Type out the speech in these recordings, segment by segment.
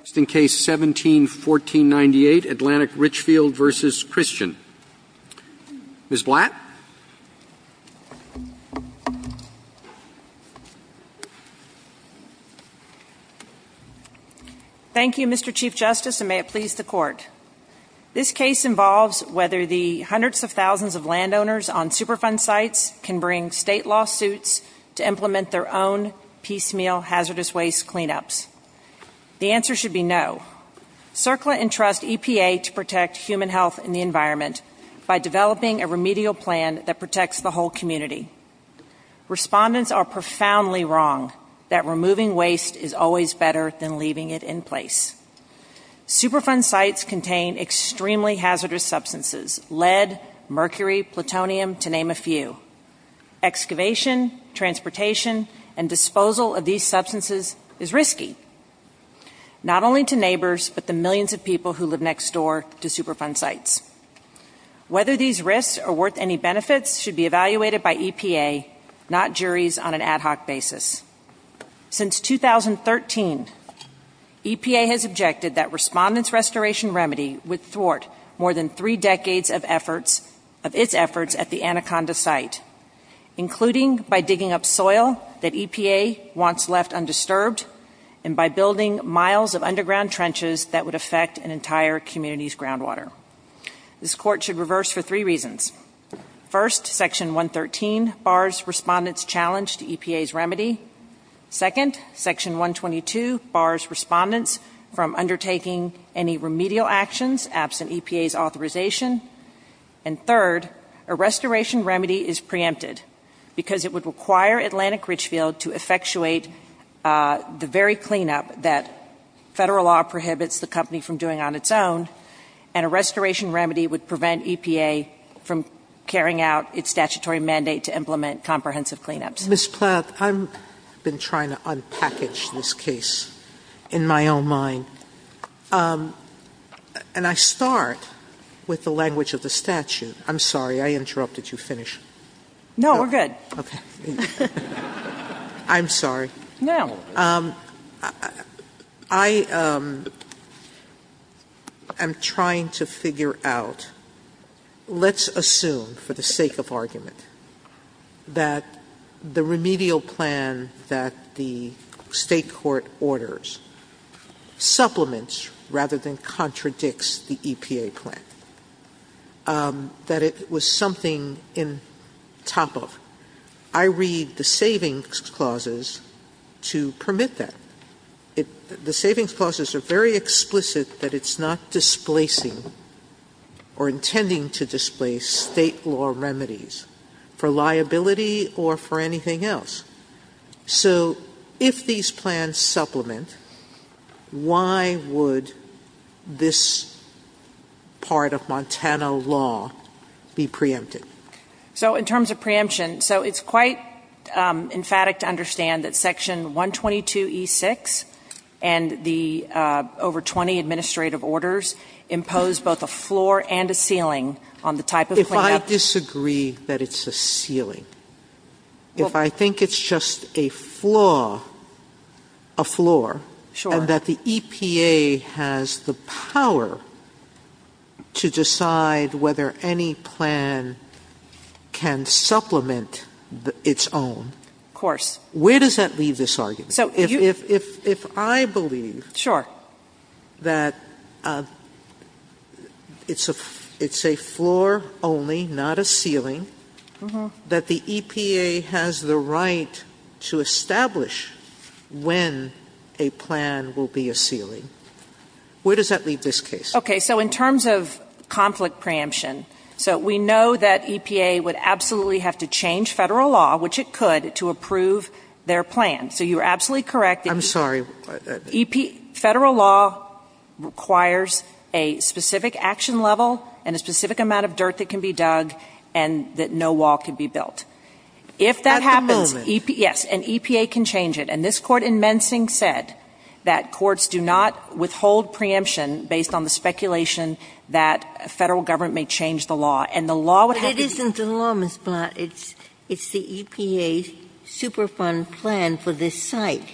171498, Atlantic Richfield v. Christian. Ms. Blatt? Thank you, Mr. Chief Justice, and may it please the Court. This case involves whether the hundreds of thousands of landowners on Superfund sites can bring State lawsuits to implement their own piecemeal hazardous waste cleanups. The answer should be no. CERCLA entrusts EPA to protect human health and the environment by developing a remedial plan that protects the whole community. Respondents are profoundly wrong that removing waste is always better than leaving it in place. Superfund sites contain extremely hazardous substances—lead, mercury, plutonium, to name a few. Excavation, transportation, and disposal of these substances is risky—not only to neighbors, but the millions of people who live next door to Superfund sites. Whether these risks are worth any benefits should be evaluated by EPA, not juries on an ad hoc basis. Since 2013, EPA has objected that Respondent's Restoration Remedy would support more than three decades of its efforts at the Anaconda site, including by digging up soil that EPA wants left undisturbed and by building miles of underground trenches that would affect an entire community's groundwater. This Court should reverse for three reasons. First, Section 113 bars Respondent's challenge to EPA's remedy. Second, Section 122 bars Respondent's from undertaking any remedial actions absent EPA's authorization. And third, a Restoration Remedy is preempted because it would require Atlantic Richfield to effectuate the very cleanup that Federal law prohibits the company from doing on its own, and a Restoration Remedy would prevent EPA from carrying out its statutory mandate to implement comprehensive cleanups. Sotomayor, Ms. Plath, I've been trying to unpackage this case in my own mind, and I start with the language of the statute. I'm sorry, I interrupted. You finish. No, we're good. Okay. I'm sorry. No. I am trying to figure out, let's assume for the sake of argument that the Restoration Remedy, the remedial plan that the State court orders supplements rather than contradicts the EPA plan, that it was something in top of. I read the savings clauses to permit that. The savings clauses are very explicit that it's not displacing or intending to displace State law remedies for liability or for anything else. So if these plans supplement, why would this part of Montana law be preempted? So in terms of preemption, so it's quite emphatic to understand that Section 122E6 and the over 20 administrative orders impose both a floor and a ceiling on the type of If I disagree that it's a ceiling, if I think it's just a floor, and that the EPA has the power to decide whether any plan can supplement its own, where does that leave this argument? If I believe that it's a floor only plan, where does that leave this argument? If I believe that it's a floor only, not a ceiling, that the EPA has the right to establish when a plan will be a ceiling, where does that leave this case? Okay. So in terms of conflict preemption, so we know that EPA would absolutely have to change Federal law, which it could, to approve their plan. So you are absolutely correct that EPA Federal law requires a specific action level and a specific amount of dirt that can be dug and that no wall can be built. If that happens, yes, an EPA can change it. And this Court in Mensing said that courts do not withhold preemption based on the speculation that a Federal government may change the law, and the law would have to be given to the law, Ms. Blatt. It's the EPA's Superfund plan for this site.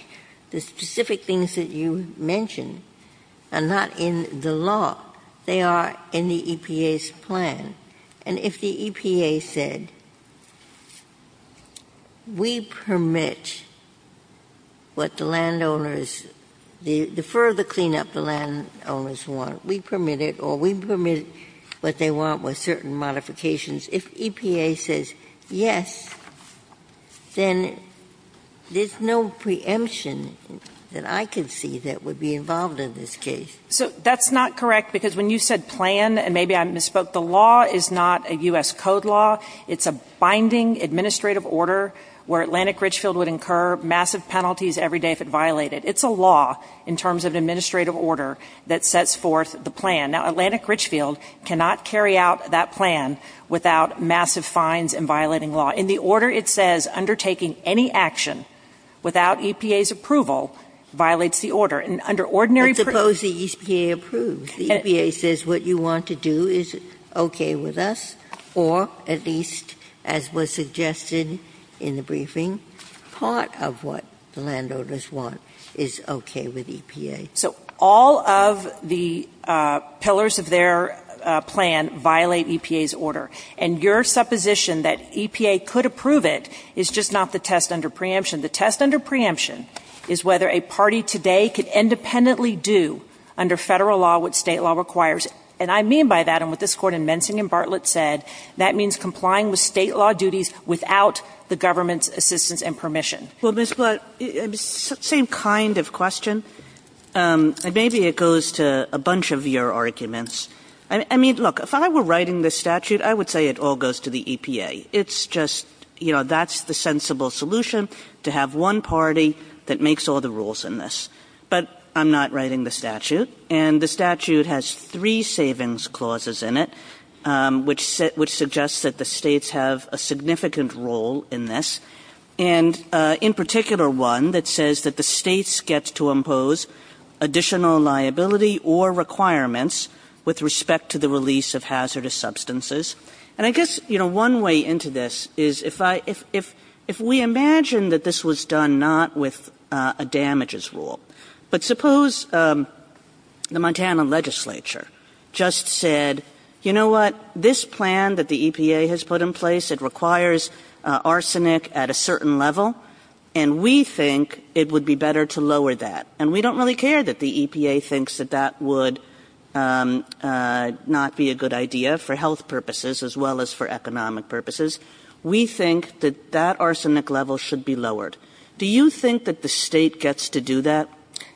The specific things that you mentioned are not in the law. They are in the EPA's plan. And if the EPA said, we permit what the landowners, the further cleanup the landowners want, we permit it, or we permit what they want with certain modifications, if EPA says yes, then there's no preemption that I can see that would be involved in this case. Blatt. So that's not correct because when you said plan, and maybe I misspoke, the law is not a U.S. Code law. It's a binding administrative order where Atlantic Richfield would incur massive penalties every day if it violated. It's a law in terms of an administrative order that sets forth the plan. Now, Atlantic Richfield cannot carry out that plan without massive fines and violating law. In the order, it says undertaking any action without EPA's approval violates the order. And under ordinary permits the EPA approves. The EPA says what you want to do is okay with us, or at least, as was suggested in the briefing, part of what the landowners want is okay with EPA. So all of the pillars of their plan violate EPA's order. And your supposition that EPA could approve it is just not the test under preemption. The test under preemption is whether a party today could independently do under Federal law what State law requires. And I mean by that, and what this Court in Mensing and Bartlett said, that means complying with State law duties without the government's assistance and permission. Well, Ms. Blatt, same kind of question. Maybe it goes to a bunch of your arguments. I mean, look, if I were writing this statute, I would say it all goes to the EPA. It's just, you know, that's the sensible solution, to have one party that makes all the rules in this. But I'm not writing the statute. And the statute has three savings clauses in it, which suggests that the States have a significant role in this, and in particular one that says that the States get to impose additional liability or requirements with respect to the release of hazardous substances. And I guess, you know, one way into this is if I, if we imagine that this was done not with a damages rule, but suppose the Montana legislature just said, you know what, this plan that the EPA has put in place, it requires arsenic at a certain level, and we think it would be better to lower that. And we don't really care that the EPA thinks that that would not be a good idea for health purposes as well as for economic purposes. We think that that arsenic level should be lowered. Do you think that the State gets to do that?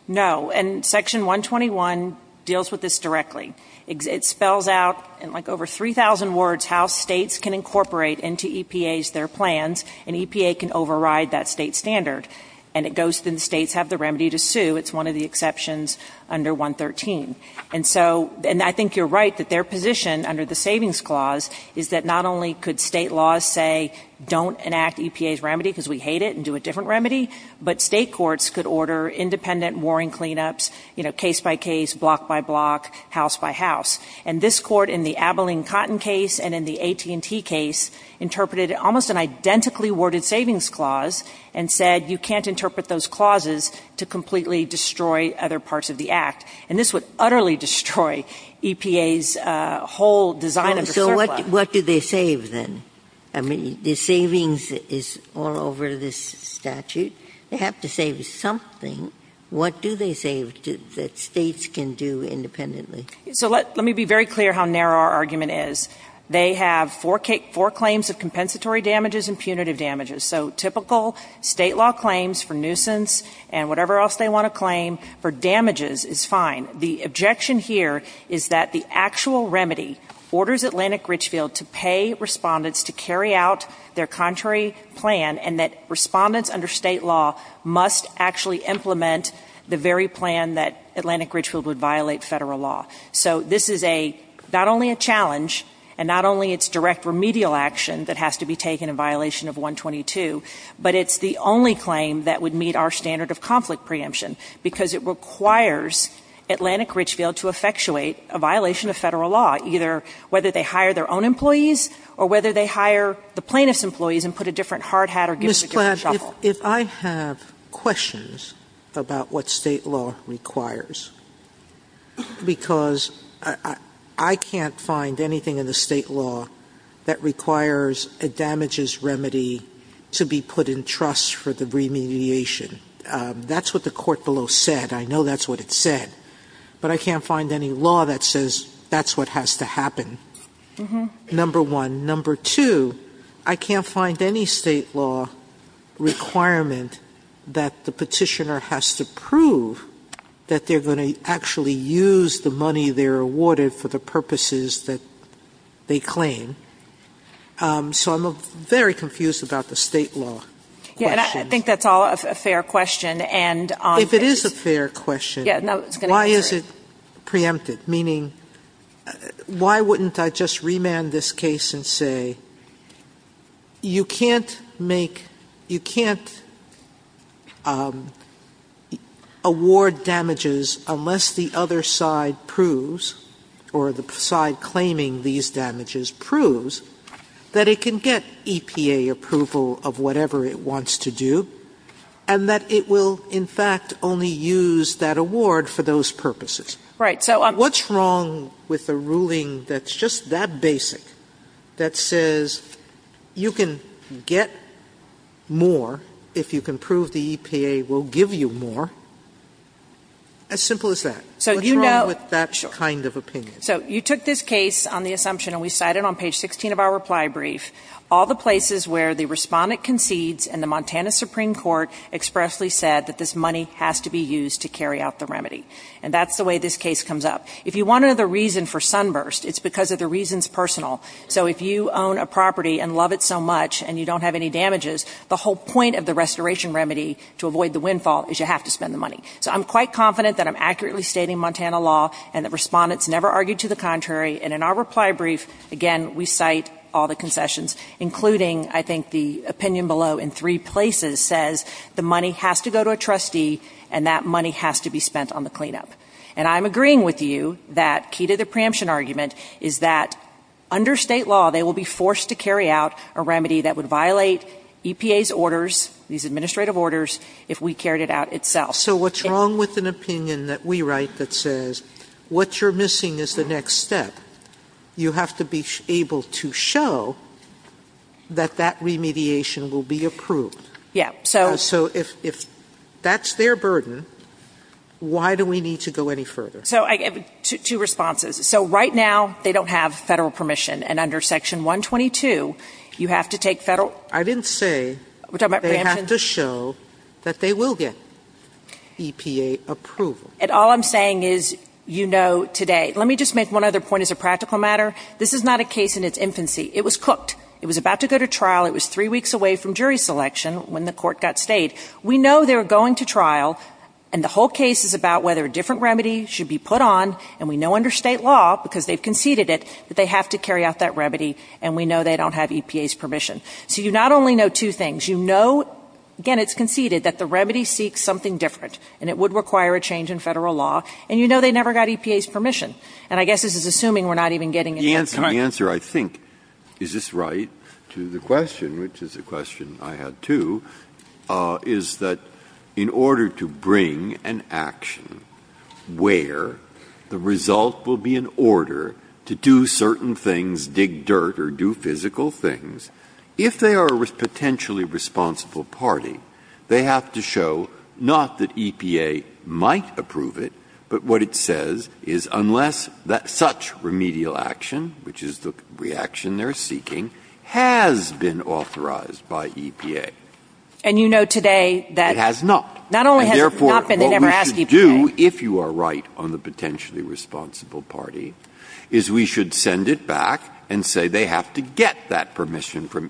No. And Section 121 deals with this directly. It spells out in like over 3,000 words how States can incorporate into EPA's, their plans, and EPA can override that State standard. And it goes to the States have the remedy to sue. It's one of the exceptions under 113. And so, and I think you're right that their position under the savings clause is that not only could State laws say don't enact EPA's a different remedy, but State courts could order independent warring cleanups, you know, case by case, block by block, house by house. And this Court in the Abilene Cotton case and in the AT&T case interpreted almost an identically worded savings clause and said you can't interpret those clauses to completely destroy other parts of the Act. And this would utterly destroy EPA's whole design of the surplus. What do they save, then? I mean, the savings is all over this statute. They have to save something. What do they save that States can do independently? So let me be very clear how narrow our argument is. They have four claims of compensatory damages and punitive damages. So typical State law claims for nuisance and whatever else they want to claim for damages is fine. The objection here is that the actual remedy orders Atlantic Richfield to pay respondents to carry out their contrary plan and that respondents under State law must actually implement the very plan that Atlantic Richfield would violate Federal law. So this is a, not only a challenge and not only its direct remedial action that has to be taken in violation of 122, but it's the only claim that would meet our standard of conflict preemption, because it requires Atlantic Richfield to effectuate a violation of Federal law, either whether they hire their own employees or whether they hire the plaintiff's employees and put a different hard hat or give them a different shovel. Sotomayor, if I have questions about what State law requires, because I can't find anything in the State law that requires a damages remedy to be put in trust for the remediation. That's what the court below said. I know that's what it said, but I can't find any law that says that's what has to happen, number one. Number two, I can't find any State law requirement that the petitioner has to prove that they're going to actually use the money they're awarded for the purposes that they claim. So I'm very confused about the State law. And I think that's all a fair question. Sotomayor, if it is a fair question, why is it preempted? Meaning, why wouldn't I just remand this case and say you can't make, you can't award damages unless the other side proves or the side claiming these damages proves that it can get EPA approval of whatever it wants to do and that it will, in fact, only use that award for those purposes? Right. So I'm What's wrong with a ruling that's just that basic that says you can get more if you can prove the EPA will give you more? As simple as that. So you know What's wrong with that kind of opinion? So you took this case on the assumption, and we cite it on page 16 of our reply brief, all the places where the respondent concedes and the Montana Supreme Court expressly said that this money has to be used to carry out the remedy. And that's the way this case comes up. If you want another reason for sunburst, it's because of the reasons personal. So if you own a property and love it so much and you don't have any damages, the whole point of the restoration remedy to avoid the windfall is you have to spend the money. So I'm quite confident that I'm accurately stating Montana law and the respondents never argued to the contrary. And in our reply brief, again, we cite all the concessions, including I think the opinion below in three places says the money has to go to a trustee and that money has to be spent on the cleanup. And I'm agreeing with you that key to the preemption argument is that under State law, they will be forced to carry out a remedy that would violate EPA's orders, these administrative orders, if we carried it out itself. So what's wrong with an opinion that we write that says what you're missing is the next step? You have to be able to show that that remediation will be approved. Yeah. So So if that's their burden, why do we need to go any further? So I have two responses. So right now they don't have Federal permission. And under Section 122, you have to take Federal I didn't say We're talking about preemption They have to show that they will get EPA approval. And all I'm saying is, you know, today, let me just make one other point as a practical matter. This is not a case in its infancy. It was cooked. It was about to go to trial. It was three weeks away from jury selection when the court got stayed. We know they're going to trial. And the whole case is about whether a different remedy should be put on. And we know under State law, because they've conceded it, that they have to carry out that remedy. And we know they don't have EPA's permission. So you not only know two things. You know, again, it's conceded that the remedy seeks something different. And it would require a change in Federal law. And you know they never got EPA's permission. And I guess this is assuming we're not even getting an answer. Breyer. The answer, I think, is this right, to the question, which is a question I had, too, is that in order to bring an action where the result will be an order to do certain things, dig dirt or do physical things, if they are a potentially responsible party, they have to show not that EPA might approve it, but what it says is unless that such remedial action, which is the reaction they're seeking, has been authorized by EPA. And you know today that It has not. Not only has it not been, they never asked EPA. And therefore, what we should do, if you are right on the potentially responsible party, is we should send it back and say they have to get that permission from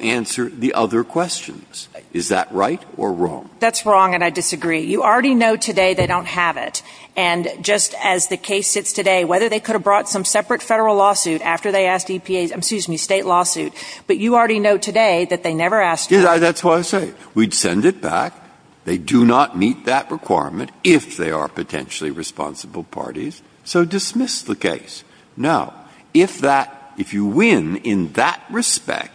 answer the other questions. Is that right or wrong? That's wrong, and I disagree. You already know today they don't have it. And just as the case sits today, whether they could have brought some separate Federal lawsuit after they asked EPA's, excuse me, State lawsuit, but you already know today that they never asked for it. That's why I say we'd send it back. They do not meet that requirement if they are potentially responsible parties. So dismiss the case. Now, if that, if you win in that respect,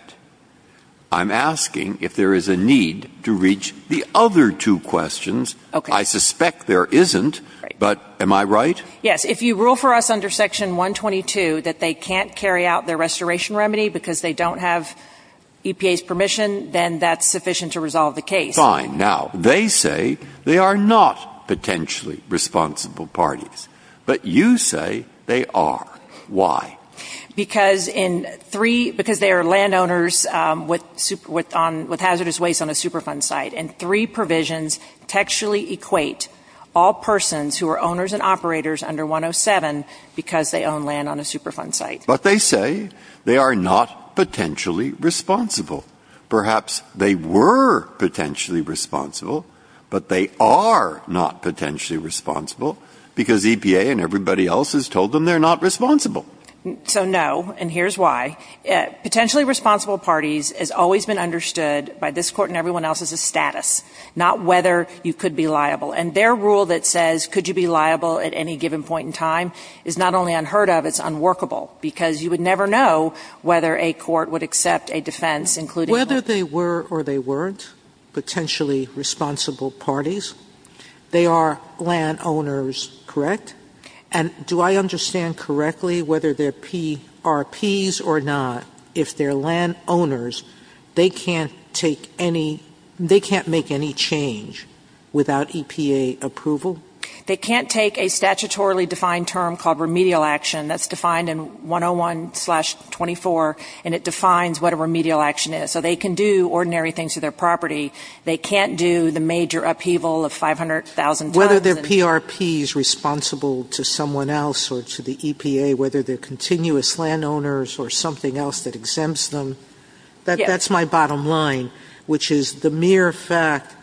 I'm asking if there is a need to reach the other two questions. I suspect there isn't, but am I right? Yes. If you rule for us under Section 122 that they can't carry out their restoration remedy because they don't have EPA's permission, then that's sufficient to resolve the case. Fine. Now, they say they are not potentially responsible parties, but you say they are. Why? Because in three, because they are landowners with hazardous waste on a Superfund site, and three provisions textually equate all persons who are owners and operators under 107 because they own land on a Superfund site. But they say they are not potentially responsible. Perhaps they were potentially responsible, but they are not potentially responsible because EPA and everybody else has told them they are not responsible. So no, and here's why. Potentially responsible parties has always been understood by this Court and everyone else as a status, not whether you could be liable. And their rule that says could you be liable at any given point in time is not only unheard of, it's unworkable, because you would never know whether a court would accept a defense including one. Whether they were or they weren't potentially responsible parties, they are landowners, correct? And do I understand correctly whether they are PRPs or not, if they are landowners, they can't take any, they can't make any change without EPA approval? They can't take a statutorily defined term called remedial action that's defined in 101-24, and it defines what a remedial action is. So they can do ordinary things to their property. They can't do the major upheaval of 500,000 tons. Whether they are PRPs responsible to someone else or to the EPA, whether they are continuous landowners or something else that exempts them, that's my bottom line, which is the mere fact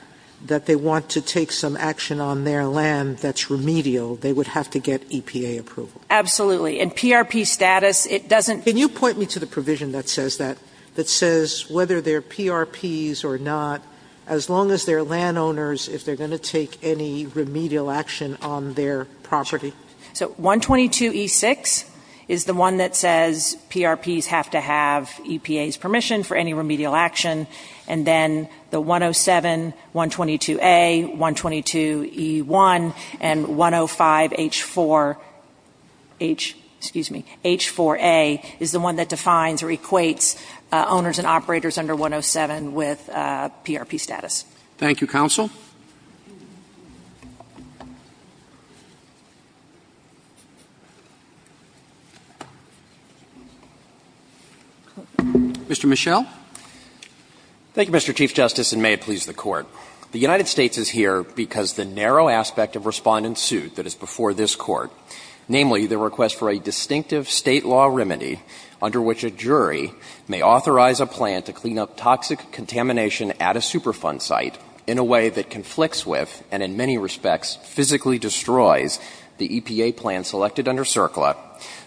that they want to take some action on their land that's remedial, they would have to get EPA approval. Absolutely. And PRP status, it doesn't Can you point me to the provision that says that, that says whether they are PRPs or not, as long as they are landowners, if they are going to take any remedial action on their property? Sure. So 122E6 is the one that says PRPs have to have EPA's permission for any remedial action, and then the 107-122A, 122E1, and 105H4, H, excuse me, H4A is the owners and operators under 107 with PRP status. Thank you, counsel. Mr. Michel. Thank you, Mr. Chief Justice, and may it please the Court. The United States is here because the narrow aspect of Respondent's suit that is before this Court, namely the request for a distinctive State law remedy under which a jury may authorize a plan to clean up toxic contamination at a Superfund site in a way that conflicts with, and in many respects physically destroys, the EPA plan selected under CERCLA,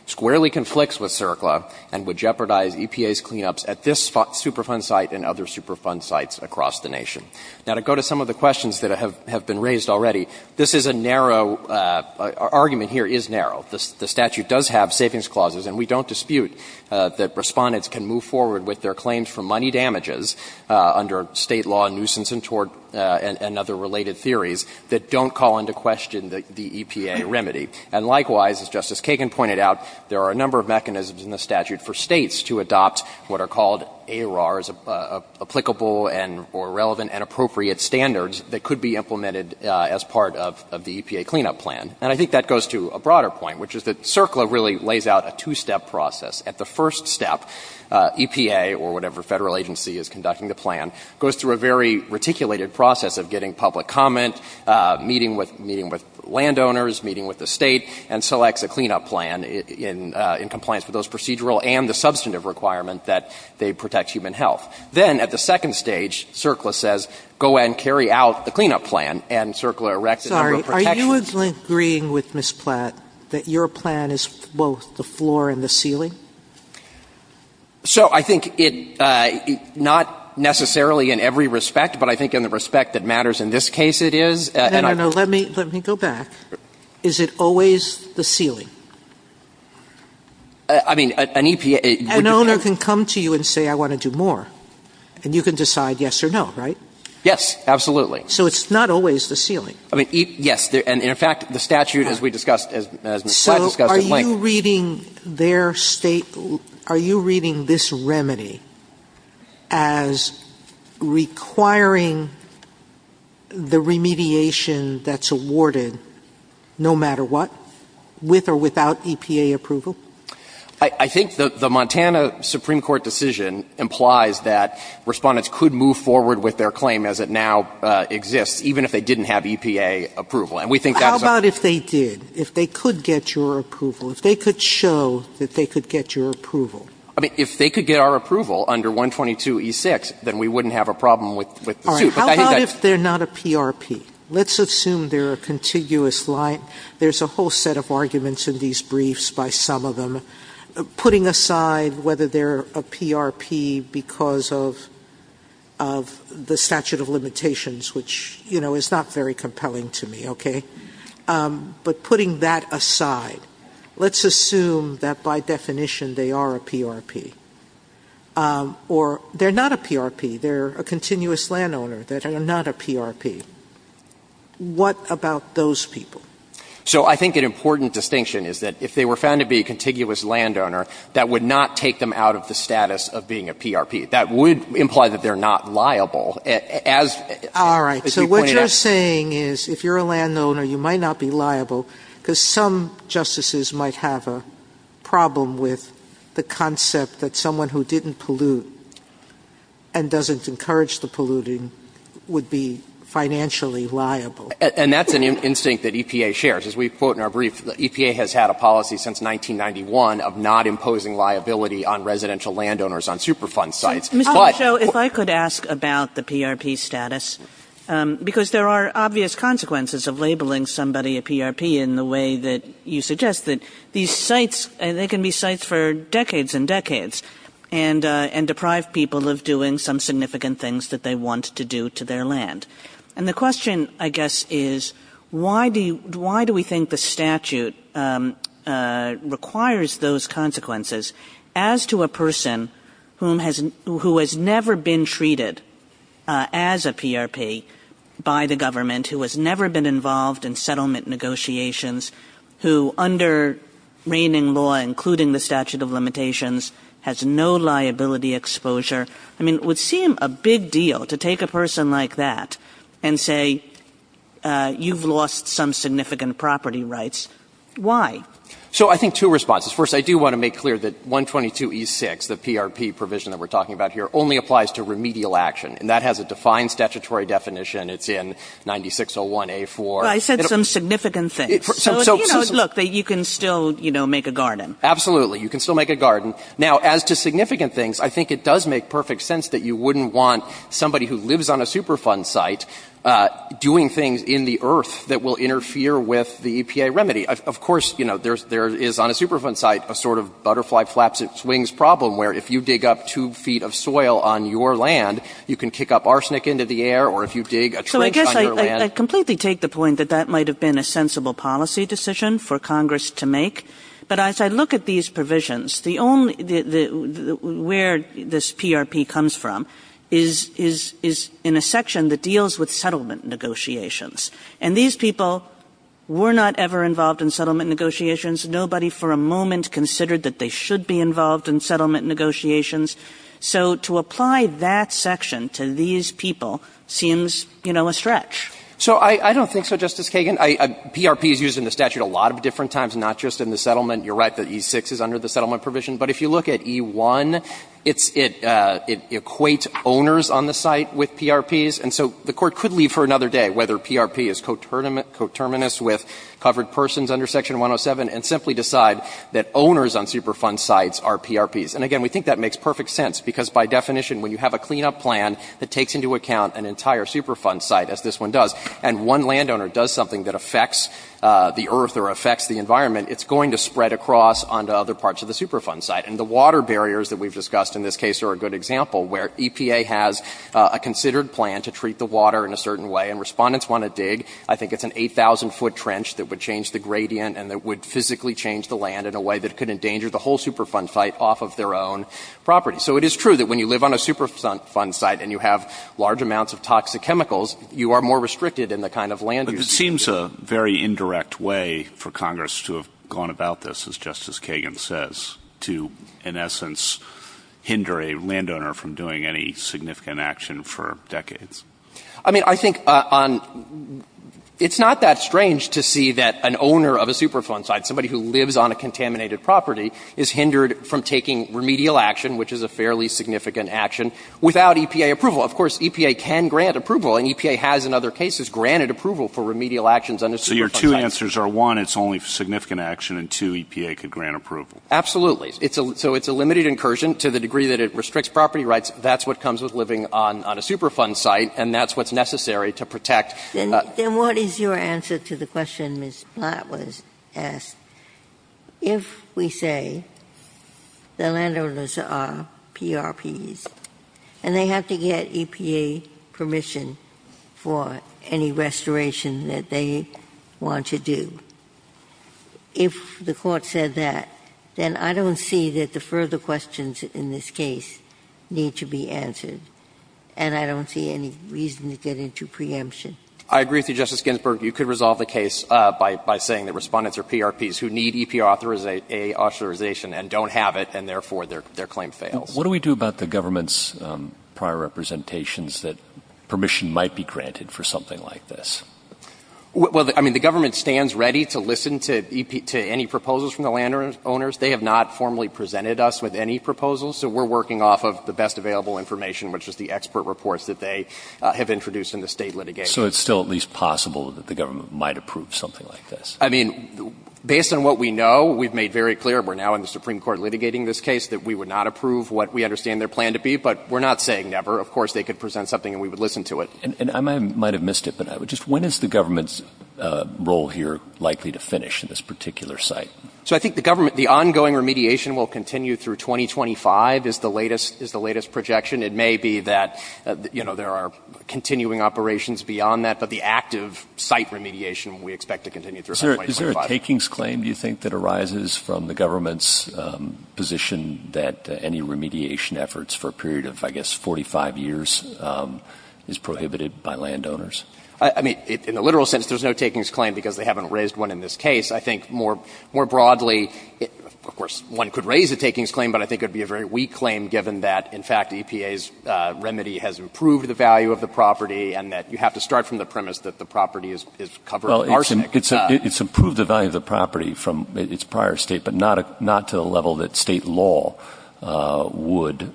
squarely conflicts with CERCLA, and would jeopardize EPA's cleanups at this Superfund site and other Superfund sites across the nation. Now, to go to some of the questions that have been raised already, this is a narrow argument here is narrow. The statute does have savings clauses, and we don't dispute that Respondents can move forward with their claims for money damages under State law nuisance and tort and other related theories that don't call into question the EPA remedy. And likewise, as Justice Kagan pointed out, there are a number of mechanisms in the statute for States to adopt what are called ARRs, applicable and or relevant and appropriate standards that could be implemented as part of the EPA cleanup plan. And I think that goes to a broader point, which is that CERCLA really lays out a two-step process. At the first step, EPA or whatever Federal agency is conducting the plan goes through a very reticulated process of getting public comment, meeting with landowners, meeting with the State, and selects a cleanup plan in compliance with those procedural and the substantive requirement that they protect human health. Then, at the second stage, CERCLA says go ahead and carry out the cleanup plan, and CERCLA erects a number of protections. Sotomayor, do you agree with Ms. Platt that your plan is both the floor and the ceiling? So I think it's not necessarily in every respect, but I think in the respect that matters in this case it is. No, no, no. Let me go back. Is it always the ceiling? I mean, an EPA... An owner can come to you and say I want to do more, and you can decide yes or no, right? Yes, absolutely. So it's not always the ceiling. I mean, yes. And in fact, the statute, as we discussed, as Ms. Platt discussed... So are you reading their State – are you reading this remedy as requiring the remediation that's awarded no matter what, with or without EPA approval? I think the Montana Supreme Court decision implies that Respondents could move forward with their claim as it now exists, even if they didn't have EPA approval. And we think that is a... How about if they did, if they could get your approval, if they could show that they could get your approval? I mean, if they could get our approval under 122e6, then we wouldn't have a problem with the suit. All right. How about if they're not a PRP? Let's assume they're a contiguous line. There's a whole set of arguments in these briefs by some of them. Putting aside whether they're a PRP because of the statute of limitations, which, you know, is not very compelling to me, okay, but putting that aside, let's assume that by definition they are a PRP. Or they're not a PRP. They're a continuous landowner. They're not a PRP. What about those people? So I think an important distinction is that if they were found to be a contiguous landowner, that would not take them out of the status of being a PRP. That would imply that they're not liable, as you pointed out. All right. So what you're saying is if you're a landowner, you might not be liable because some justices might have a problem with the concept that someone who didn't pollute and doesn't encourage the polluting would be financially liable. And that's an instinct that EPA shares. As we quote in our brief, the EPA has had a policy since 1991 of not imposing liability on residential landowners on Superfund sites. But — Ms. Osho, if I could ask about the PRP status, because there are obvious consequences of labeling somebody a PRP in the way that you suggest, that these sites, they can be sites for decades and decades and deprive people of doing some significant things that they want to do to their land. And the question, I guess, is why do we think the statute requires those consequences as to a person who has never been treated as a PRP by the government, who has never been involved in settlement negotiations, who under reigning law, including the statute of limitations, has no liability exposure? I mean, it would seem a big deal to take a person like that and say, you've lost some significant property rights. Why? So I think two responses. First, I do want to make clear that 122E6, the PRP provision that we're talking about here, only applies to remedial action. And that has a defined statutory definition. It's in 9601A4. Well, I said some significant things. So, you know, look, you can still, you know, make a garden. Absolutely. You can still make a garden. Now, as to significant things, I think it does make perfect sense that you wouldn't want somebody who lives on a Superfund site doing things in the earth that will interfere with the EPA remedy. Of course, you know, there is on a Superfund site a sort of butterfly flaps and swings problem where if you dig up two feet of soil on your land, you can kick up arsenic into the air, or if you dig a trench on your land. I completely take the point that that might have been a sensible policy decision for Congress to make. But as I look at these provisions, the only, where this PRP comes from is in a section that deals with settlement negotiations. And these people were not ever involved in settlement negotiations. Nobody for a moment considered that they should be involved in settlement negotiations. So I don't think so, Justice Kagan. PRP is used in the statute a lot of different times, not just in the settlement. You're right that E-6 is under the settlement provision. But if you look at E-1, it equates owners on the site with PRPs. And so the Court could leave for another day whether PRP is coterminous with covered persons under Section 107 and simply decide that owners on Superfund sites are PRPs. And again, we think that makes perfect sense, because by definition, when you have a cleanup plan that takes into account an entire Superfund site, as this one does, and one landowner does something that affects the earth or affects the environment, it's going to spread across onto other parts of the Superfund site. And the water barriers that we've discussed in this case are a good example, where EPA has a considered plan to treat the water in a certain way, and respondents want to dig. I think it's an 8,000-foot trench that would change the gradient and that would physically change the land in a way that could endanger the whole Superfund site off of their own property. So it is true that when you live on a Superfund site and you have large amounts of toxic chemicals, you are more restricted in the kind of land use. But it seems a very indirect way for Congress to have gone about this, as Justice Kagan says, to, in essence, hinder a landowner from doing any significant action for decades. I mean, I think on — it's not that strange to see that an owner of a Superfund site, somebody who lives on a contaminated property, is hindered from taking remedial action, which is a fairly significant action, without EPA approval. Of course, EPA can grant approval, and EPA has in other cases granted approval for remedial actions on a Superfund site. So your two answers are, one, it's only significant action, and, two, EPA could grant approval. Absolutely. So it's a limited incursion to the degree that it restricts property rights. That's what comes with living on a Superfund site, and that's what's necessary to protect. Then what is your answer to the question Ms. Platt was asked? If we say the landowners are PRPs and they have to get EPA permission for any restoration that they want to do, if the Court said that, then I don't see that the further questions in this case need to be answered, and I don't see any reason to get into preemption. I agree with you, Justice Ginsburg. You could resolve the case by saying that Respondents are PRPs who need EPA authorization and don't have it, and therefore their claim fails. What do we do about the government's prior representations that permission might be granted for something like this? Well, I mean, the government stands ready to listen to any proposals from the landowners. They have not formally presented us with any proposals, so we're working off of the best available information, which is the expert reports that they have introduced in the State litigation. So it's still at least possible that the government might approve something like this? I mean, based on what we know, we've made very clear, we're now in the Supreme Court litigating this case, that we would not approve what we understand their plan to be. But we're not saying never. Of course, they could present something and we would listen to it. And I might have missed it, but I would just, when is the government's role here likely to finish in this particular site? So I think the government, the ongoing remediation will continue through 2025 is the latest, is the latest projection. It may be that, you know, there are continuing operations beyond that, but the active site remediation, we expect to continue through 2025. Is there a takings claim, do you think, that arises from the government's position that any remediation efforts for a period of, I guess, 45 years is prohibited by landowners? I mean, in the literal sense, there's no takings claim because they haven't raised one in this case. I think more broadly, of course, one could raise a takings claim, but I think it would be a very weak claim given that, in fact, EPA's remedy has improved the value of the property and that you have to start from the premise that the property is covered in arsenic. Well, it's improved the value of the property from its prior state, but not to the level that State law would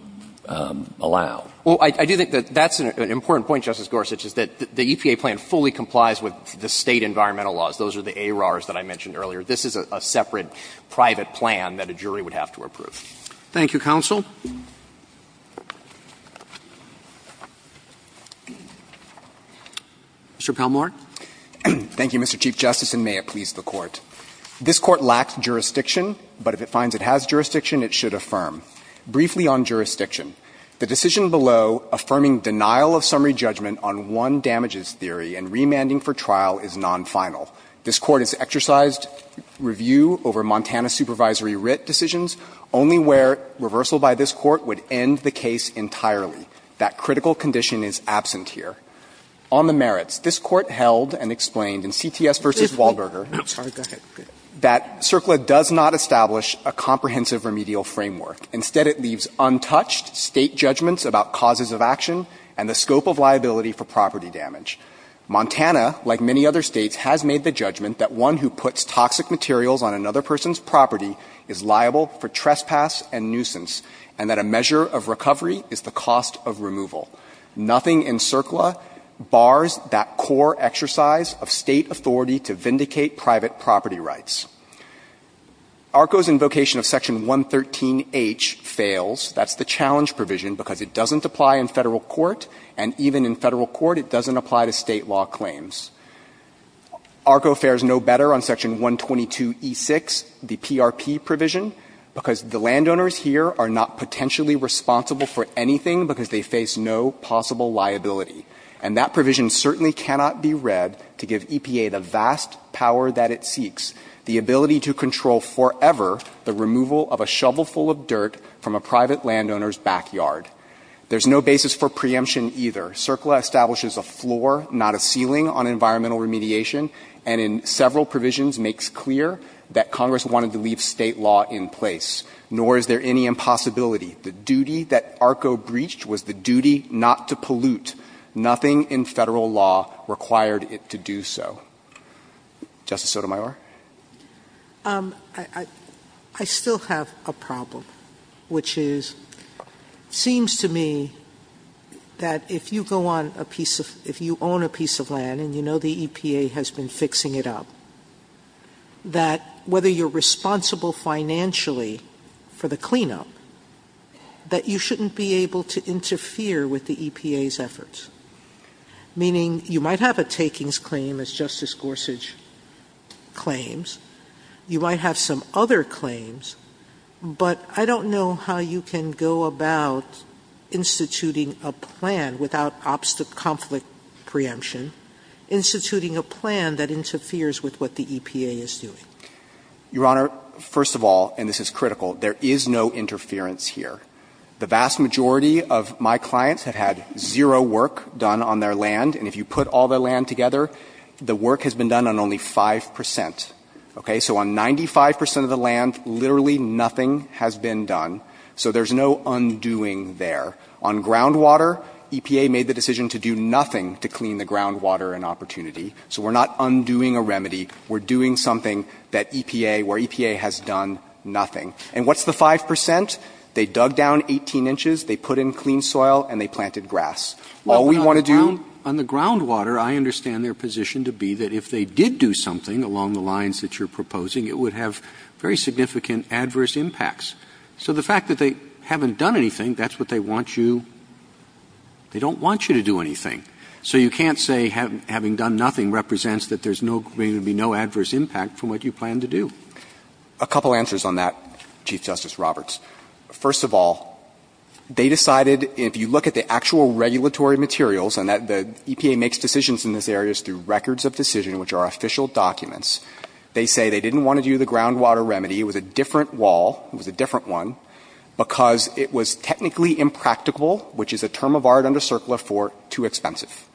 allow. Well, I do think that that's an important point, Justice Gorsuch, is that the EPA plan fully complies with the State environmental laws. Those are the ARARs that I mentioned earlier. This is a separate private plan that a jury would have to approve. Thank you, counsel. Mr. Palmore. Thank you, Mr. Chief Justice, and may it please the Court. This Court lacks jurisdiction, but if it finds it has jurisdiction, it should affirm. Briefly on jurisdiction. The decision below affirming denial of summary judgment on one damages theory and remanding for trial is nonfinal. This Court has exercised review over Montana supervisory writ decisions only where reversal by this Court would end the case entirely. That critical condition is absent here. On the merits, this Court held and explained in CTS v. Wahlberger that CERCLA does not establish a comprehensive remedial framework. Instead, it leaves untouched State judgments about causes of action and the scope of liability for property damage. Montana, like many other States, has made the judgment that one who puts toxic materials on another person's property is liable for trespass and nuisance, and that a measure of recovery is the cost of removal. Nothing in CERCLA bars that core exercise of State authority to vindicate private property rights. ARCO's invocation of Section 113H fails. That's the challenge provision, because it doesn't apply in Federal court, and even in Federal court, it doesn't apply to State law claims. ARCO fares no better on Section 122e6, the PRP provision, because the landowners here are not potentially responsible for anything because they face no possible liability. And that provision certainly cannot be read to give EPA the vast power that it seeks, the ability to control forever the removal of a shovelful of dirt from a private landowner's backyard. There's no basis for preemption either. CERCLA establishes a floor, not a ceiling, on environmental remediation and in several provisions makes clear that Congress wanted to leave State law in place. Nor is there any impossibility. The duty that ARCO breached was the duty not to pollute. Nothing in Federal law required it to do so. Justice Sotomayor. I still have a problem, which is, it seems to me that if you own a piece of land and you know the EPA has been fixing it up, that whether you're responsible financially for the cleanup, that you shouldn't be able to interfere with the EPA's efforts, meaning you might have a takings claim, as Justice Gorsuch claimed, you might have some other claims, but I don't know how you can go about instituting a plan without obstacle conflict preemption, instituting a plan that interferes with what the EPA is doing. Your Honor, first of all, and this is critical, there is no interference here. The vast majority of my clients have had zero work done on their land, and if you put all their land together, the work has been done on only 5 percent. Okay? So on 95 percent of the land, literally nothing has been done. So there's no undoing there. On groundwater, EPA made the decision to do nothing to clean the groundwater in Opportunity. So we're not undoing a remedy. We're doing something that EPA, where EPA has done nothing. And what's the 5 percent? They dug down 18 inches, they put in clean soil, and they planted grass. All we want to do — Roberts, on the groundwater, I understand their position to be that if they did do something along the lines that you're proposing, it would have very significant adverse impacts. So the fact that they haven't done anything, that's what they want you to do. They don't want you to do anything. So you can't say having done nothing represents that there's no going to be no adverse impact from what you plan to do. A couple answers on that, Chief Justice Roberts. First of all, they decided if you look at the actual regulatory materials, and the EPA makes decisions in this area through records of decision, which are official documents, they say they didn't want to do the groundwater remedy. It was a different wall. It was a different one because it was technically impractical, which is a term of art under CERCLA for too expensive.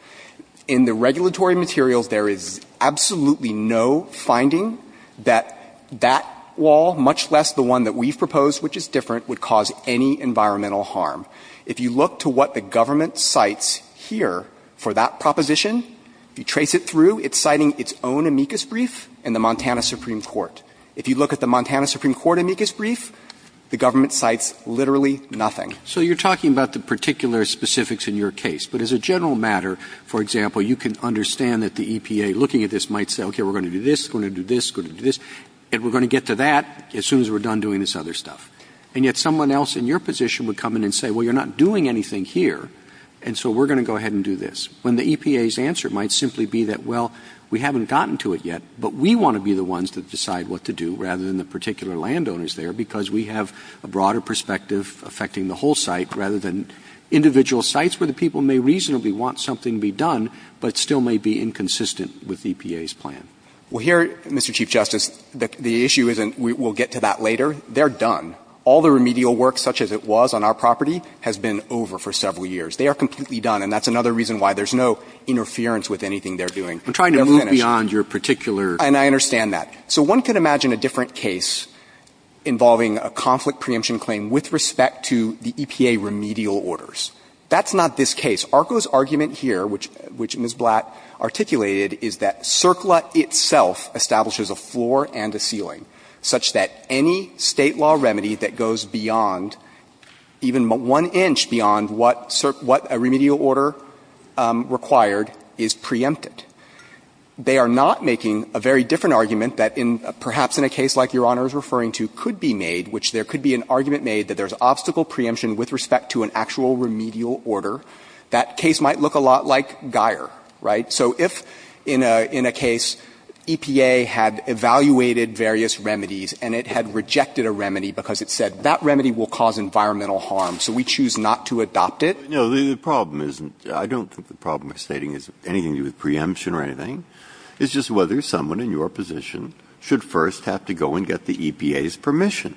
In the regulatory materials, there is absolutely no finding that that wall, much less the one that we've proposed, which is different, would cause any environmental harm. If you look to what the government cites here for that proposition, if you trace it through, it's citing its own amicus brief and the Montana Supreme Court. If you look at the Montana Supreme Court amicus brief, the government cites literally nothing. So you're talking about the particular specifics in your case. But as a general matter, for example, you can understand that the EPA, looking at this, might say, okay, we're going to do this, going to do this, going to do this, and we're going to get to that as soon as we're done doing this other stuff. And yet someone else in your position would come in and say, well, you're not doing anything here, and so we're going to go ahead and do this, when the EPA's answer might simply be that, well, we haven't gotten to it yet, but we want to be the ones that decide what to do rather than the particular landowners there because we have a broader perspective affecting the whole site rather than individual sites where the people may reasonably want something to be done but still may be inconsistent with EPA's plan. Well, here, Mr. Chief Justice, the issue isn't we'll get to that later. They're done. All the remedial work, such as it was on our property, has been over for several years. They are completely done, and that's another reason why there's no interference with anything they're doing. They're finished. We're trying to move beyond your particular case. And I understand that. So one could imagine a different case involving a conflict preemption claim with respect to the EPA remedial orders. That's not this case. ARCO's argument here, which Ms. Blatt articulated, is that CERCLA itself establishes a floor and a ceiling such that any State law remedy that goes beyond, even one inch, beyond what a remedial order required is preempted. They are not making a very different argument that perhaps in a case like Your Honor is referring to could be made, which there could be an argument made that there's that case might look a lot like Geier, right? So if in a case EPA had evaluated various remedies and it had rejected a remedy because it said that remedy will cause environmental harm, so we choose not to adopt it. Breyer. No. The problem isn't, I don't think the problem they're stating is anything to do with preemption or anything. It's just whether someone in your position should first have to go and get the EPA's permission.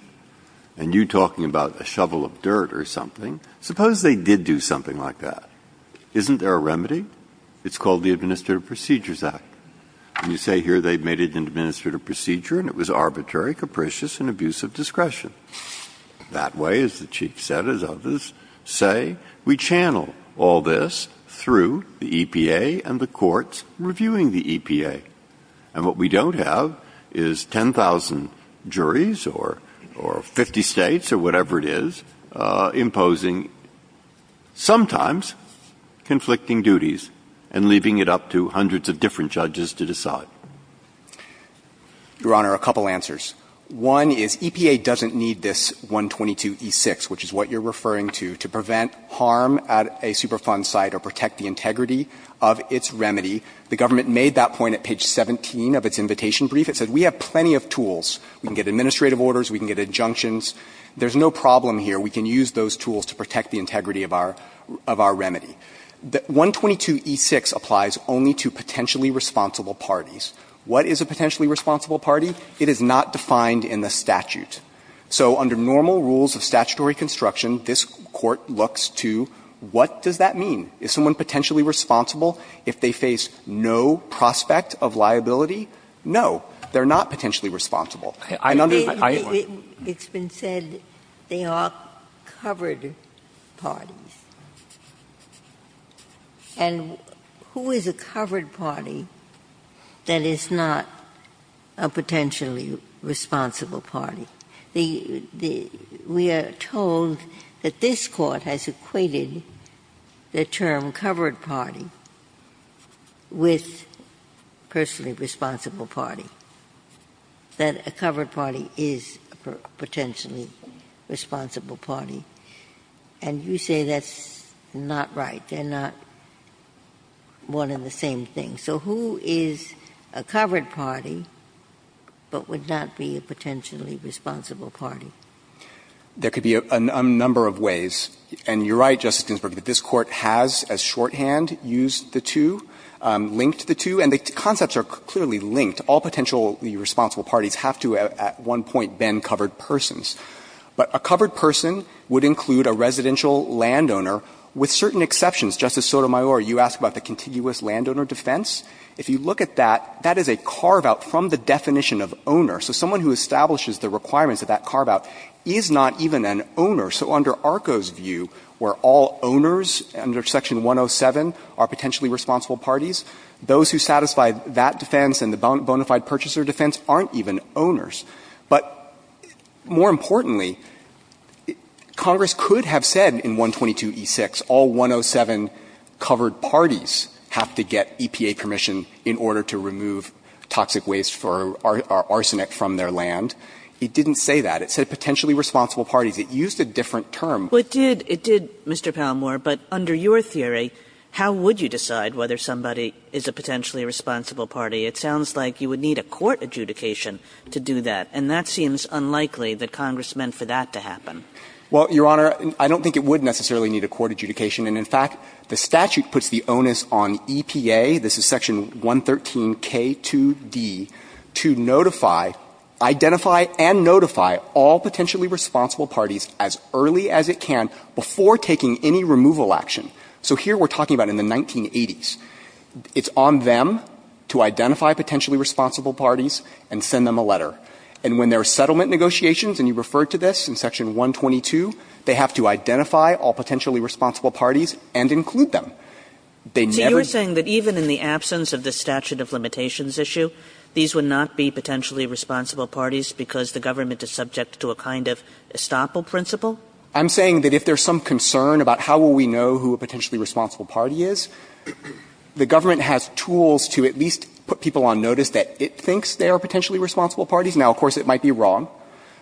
And you talking about a shovel of dirt or something, suppose they did do something like that. Isn't there a remedy? It's called the Administrative Procedures Act. And you say here they made it an administrative procedure and it was arbitrary, capricious, and abuse of discretion. That way, as the Chief said, as others say, we channel all this through the EPA and the courts reviewing the EPA. And what we don't have is 10,000 juries or 50 States or whatever it is imposing sometimes conflicting duties and leaving it up to hundreds of different judges to decide. Your Honor, a couple answers. One is EPA doesn't need this 122e6, which is what you're referring to, to prevent harm at a Superfund site or protect the integrity of its remedy. The government made that point at page 17 of its invitation brief. It said we have plenty of tools. We can get administrative orders. We can get injunctions. There's no problem here. We can use those tools to protect the integrity of our remedy. The 122e6 applies only to potentially responsible parties. What is a potentially responsible party? It is not defined in the statute. So under normal rules of statutory construction, this Court looks to what does that mean? Is someone potentially responsible if they face no prospect of liability? No. They're not potentially responsible. It's been said they are covered parties. And who is a covered party that is not a potentially responsible party? We are told that this Court has equated the term covered party with personally responsible party, that a covered party is a potentially responsible party. And you say that's not right. They're not one and the same thing. So who is a covered party but would not be a potentially responsible party? There could be a number of ways. And you're right, Justice Ginsburg, that this Court has as shorthand used the two, linked the two. And the concepts are clearly linked. All potentially responsible parties have to at one point been covered persons. But a covered person would include a residential landowner with certain exceptions. Justice Sotomayor, you asked about the contiguous landowner defense. If you look at that, that is a carve-out from the definition of owner. So someone who establishes the requirements of that carve-out is not even an owner. So under ARCO's view, where all owners under Section 107 are potentially responsible parties, those who satisfy that defense and the bona fide purchaser defense aren't even owners. But more importantly, Congress could have said in 122e6 all 107 covered parties have to get EPA permission in order to remove toxic waste or arsenic from their land. It didn't say that. It said potentially responsible parties. It used a different term. Kagan. It did, Mr. Palmore. But under your theory, how would you decide whether somebody is a potentially responsible party? It sounds like you would need a court adjudication to do that. And that seems unlikely that Congress meant for that to happen. Well, Your Honor, I don't think it would necessarily need a court adjudication. And in fact, the statute puts the onus on EPA, this is Section 113k2d, to notify, identify and notify all potentially responsible parties as early as it can before taking any removal action. So here we're talking about in the 1980s. It's on them to identify potentially responsible parties and send them a letter. And when there are settlement negotiations, and you referred to this in Section 122, they have to identify all potentially responsible parties and include them. They never do. So you're saying that even in the absence of the statute of limitations issue, these would not be potentially responsible parties because the government is subject to a kind of estoppel principle? I'm saying that if there's some concern about how will we know who a potentially responsible party is, the government has tools to at least put people on notice that it thinks they are potentially responsible parties. Now, of course, it might be wrong.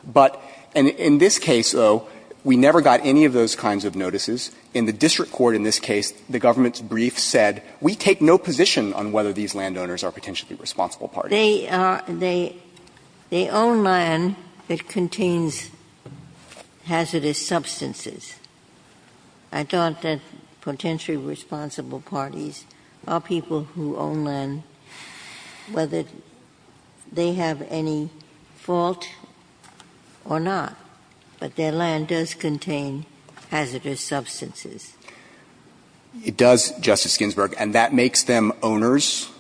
But in this case, though, we never got any of those kinds of notices. In the district court in this case, the government's brief said, we take no position on whether these landowners are potentially responsible parties. They own land that contains hazardous substances. I thought that potentially responsible parties are people who own land, whether they have any fault or not. But their land does contain hazardous substances. It does, Justice Ginsburg. And that makes them owners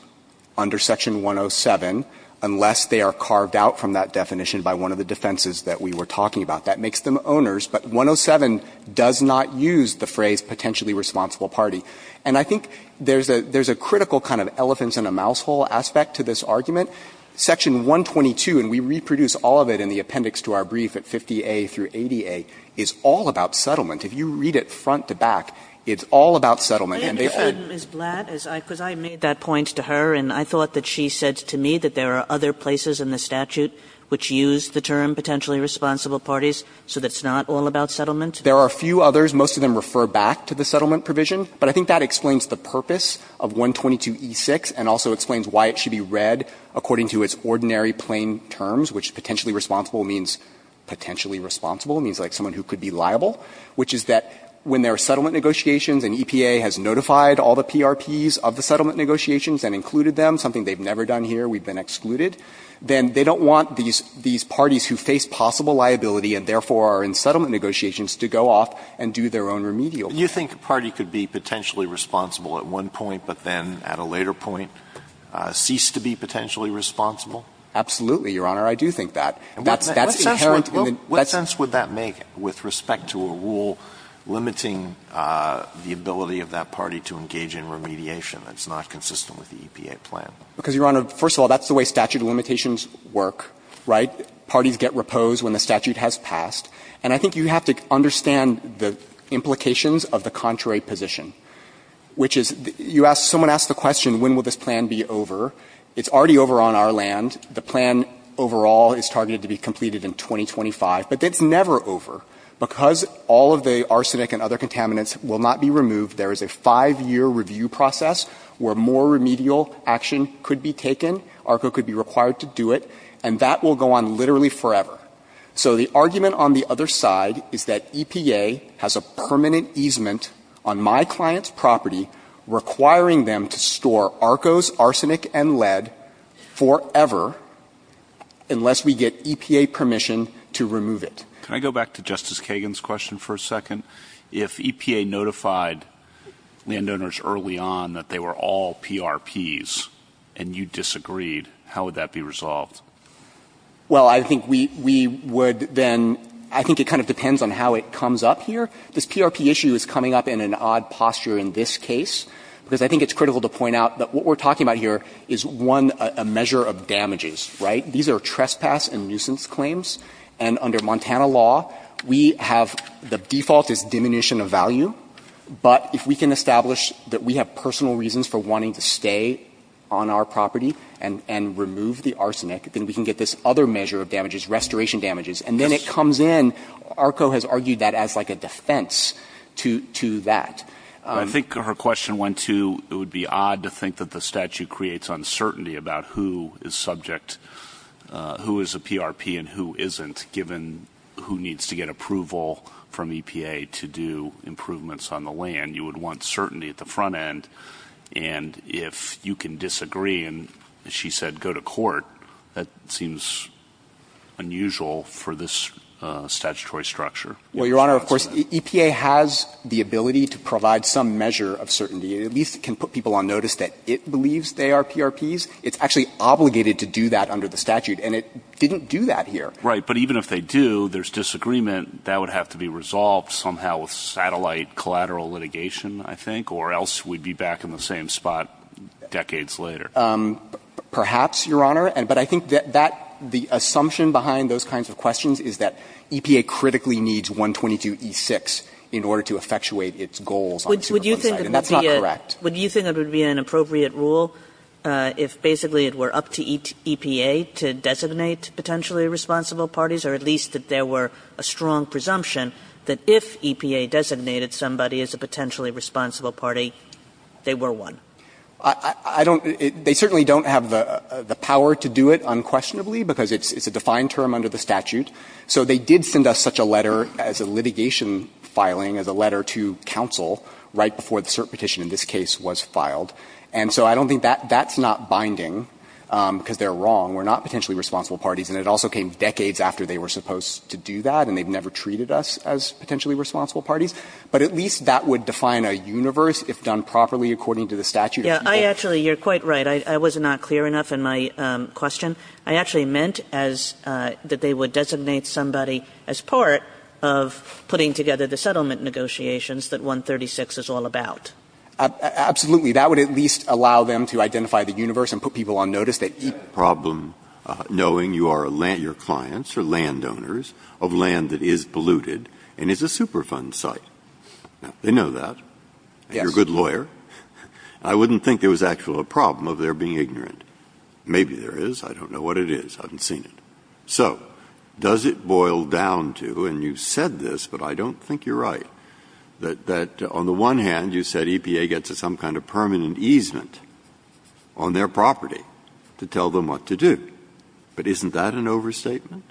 under Section 107, unless they are carved out from that definition by one of the defenses that we were talking about. That makes them owners. But 107 does not use the phrase potentially responsible party. And I think there's a critical kind of elephant in a mouse hole aspect to this argument. Section 122, and we reproduce all of it in the appendix to our brief at 50A through 80A, is all about settlement. If you read it front to back, it's all about settlement. And they've heard of it. Kagan, I understand Ms. Blatt, because I made that point to her. And I thought that she said to me that there are other places in the statute which use the term potentially responsible parties, so it's not all about settlement. There are a few others. Most of them refer back to the settlement provision. But I think that explains the purpose of 122e6 and also explains why it should be read according to its ordinary plain terms, which potentially responsible means potentially responsible, means like someone who could be liable, which is that when there are settlement negotiations and EPA has notified all the PRPs of the settlement negotiations and included them, something they've never done here, we've been excluded, then they don't want these parties who face possible liability and therefore are in settlement negotiations to go off and do their own remedial work. Alito, you think a party could be potentially responsible at one point but then at a later point cease to be potentially responsible? Absolutely, Your Honor. I do think that. That's inherent in the next sentence. What would that make with respect to a rule limiting the ability of that party to engage in remediation that's not consistent with the EPA plan? Because, Your Honor, first of all, that's the way statute of limitations work, right? Parties get reposed when the statute has passed. And I think you have to understand the implications of the contrary position, which is you ask the question when will this plan be over. It's already over on our land. The plan overall is targeted to be completed in 2025. But it's never over because all of the arsenic and other contaminants will not be removed. There is a five-year review process where more remedial action could be taken. ARCO could be required to do it. And that will go on literally forever. So the argument on the other side is that EPA has a permanent easement on my client's property requiring them to store ARCO's arsenic and lead forever unless we get EPA permission to remove it. Can I go back to Justice Kagan's question for a second? If EPA notified landowners early on that they were all PRPs and you disagreed, how would that be resolved? Well, I think we would then, I think it kind of depends on how it comes up here. This PRP issue is coming up in an odd posture in this case because I think it's critical to point out that what we're talking about here is, one, a measure of damages, right? These are trespass and nuisance claims. And under Montana law, we have the default is diminution of value. But if we can establish that we have personal reasons for wanting to stay on our property and remove the arsenic, then we can get this other measure of damages, restoration damages. And then it comes in, ARCO has argued that as like a defense to that. I think her question went to it would be odd to think that the statute creates uncertainty about who is subject, who is a PRP and who isn't, given who needs to get approval from EPA to do improvements on the land. You would want certainty at the front end. And if you can disagree and, as she said, go to court, that seems unusual for this statutory structure. Well, Your Honor, of course, EPA has the ability to provide some measure of certainty. It at least can put people on notice that it believes they are PRPs. It's actually obligated to do that under the statute. And it didn't do that here. Right. But even if they do, there's disagreement that would have to be resolved somehow with satellite collateral litigation, I think, or else we'd be back in the same spot decades later. Perhaps, Your Honor. But I think that the assumption behind those kinds of questions is that EPA critically needs 122e6 in order to effectuate its goals on the superfund site. And that's not correct. Kagan. Would you think it would be an appropriate rule if basically it were up to EPA to designate potentially responsible parties, or at least that there were a strong presumption that if EPA designated somebody as a potentially responsible party, they were one? I don't – they certainly don't have the power to do it unquestionably because it's a defined term under the statute. So they did send us such a letter as a litigation filing, as a letter to counsel right before the cert petition in this case was filed. And so I don't think that – that's not binding because they're wrong. We're not potentially responsible parties. And it also came decades after they were supposed to do that, and they've never treated us as potentially responsible parties. But at least that would define a universe if done properly according to the statute. Yeah. I actually – you're quite right. I was not clear enough in my question. I actually meant as – that they would designate somebody as part of putting together the settlement negotiations that 136 is all about. Absolutely. That would at least allow them to identify the universe and put people on notice that – You have a problem knowing you are a – your clients are landowners of land that is polluted and is a Superfund site. They know that. Yes. And you're a good lawyer. I wouldn't think there was actually a problem of their being ignorant. Maybe there is. I don't know what it is. I haven't seen it. So does it boil down to – and you've said this, but I don't think you're right – that on the one hand, you said EPA gets some kind of permanent easement on their property to tell them what to do. But isn't that an overstatement?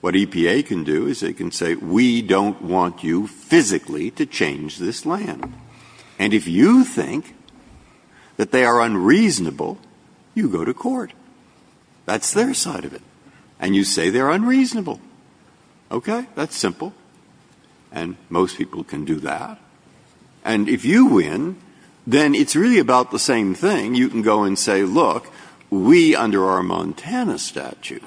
What EPA can do is they can say, we don't want you physically to change this land. And if you think that they are unreasonable, you go to court. That's their side of it. And you say they're unreasonable. Okay? That's simple. And most people can do that. And if you win, then it's really about the same thing. You can go and say, look, we, under our Montana statute,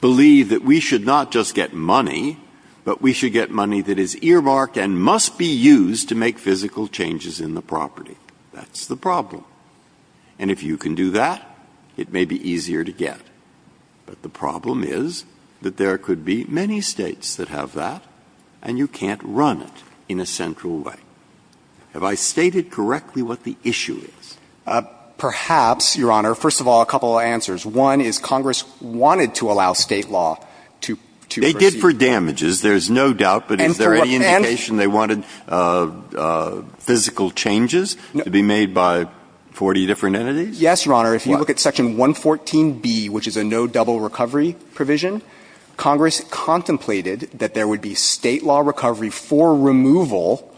believe that we should not just get money, but we should get money that is earmarked and must be used to make physical changes in the property. That's the problem. And if you can do that, it may be easier to get. But the problem is that there could be many States that have that, and you can't run it in a central way. Have I stated correctly what the issue is? Perhaps, Your Honor. First of all, a couple of answers. One is Congress wanted to allow State law to proceed. They did for damages, there's no doubt. But is there any indication they wanted physical changes to be made by 40 different entities? Yes, Your Honor. If you look at section 114B, which is a no double recovery provision, Congress contemplated that there would be State law recovery for removal,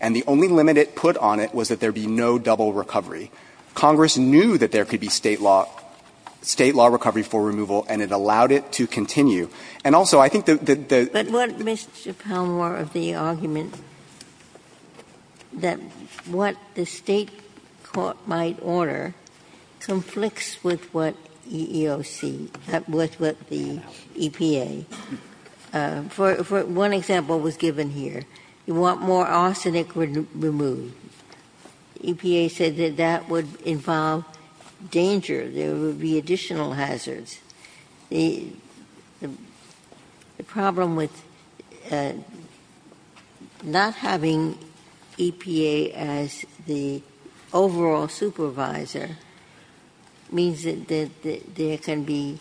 and the only limit put on it was that there be no double recovery. Congress knew that there could be State law recovery for removal, and it allowed it to continue. And also, I think the the the But what Mr. Palmore of the argument that what the State court might order conflicts with what EEOC, with what the EPA. For one example was given here. You want more arsenic removed. EPA said that that would involve danger, there would be additional hazards. The problem with not having EPA as the overall supervisor means that there can be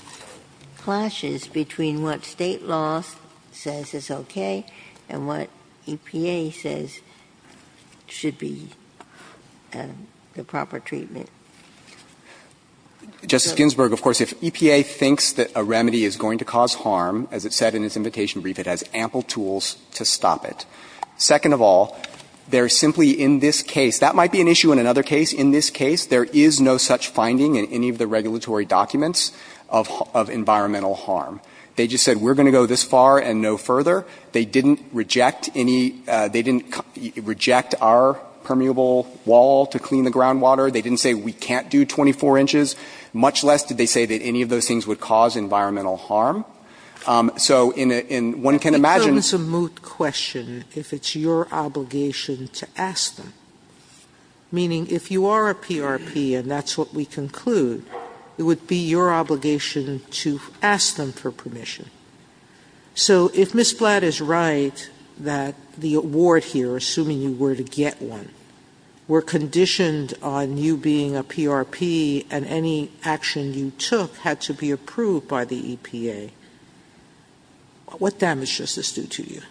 clashes between what State law says is okay and what EPA says should be the proper treatment. Justice Ginsburg, of course, if EPA thinks that a remedy is going to cause harm, as it said in its invitation brief, it has ample tools to stop it. Second of all, there simply in this case, that might be an issue in another case. In this case, there is no such finding in any of the regulatory documents of environmental harm. They just said we're going to go this far and no further. They didn't reject any, they didn't reject our permeable wall to clean the groundwater. They didn't say we can't do 24 inches, much less did they say that any of those things would cause environmental harm. So one can imagine. It becomes a moot question if it's your obligation to ask them. Meaning if you are a PRP and that's what we conclude, it would be your obligation to ask them for permission. So if Ms. Flatt is right that the award here, assuming you were to get one, were conditioned on you being a PRP and any action you took had to be approved by the EPA, what damage does this do to you?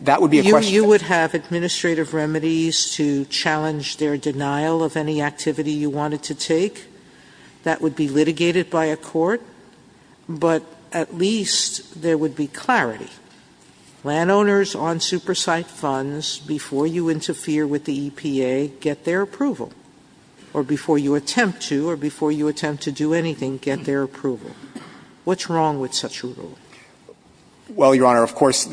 You would have administrative remedies to challenge their denial of any activity you wanted to take. That would be litigated by a court, but at least there would be clarity. Sotomayor, I'm not sure I understand your argument. Landowners on super site funds, before you interfere with the EPA, get their approval, or before you attempt to or before you attempt to do anything, get their approval. What's wrong with such a rule? Well, Your Honor, of course,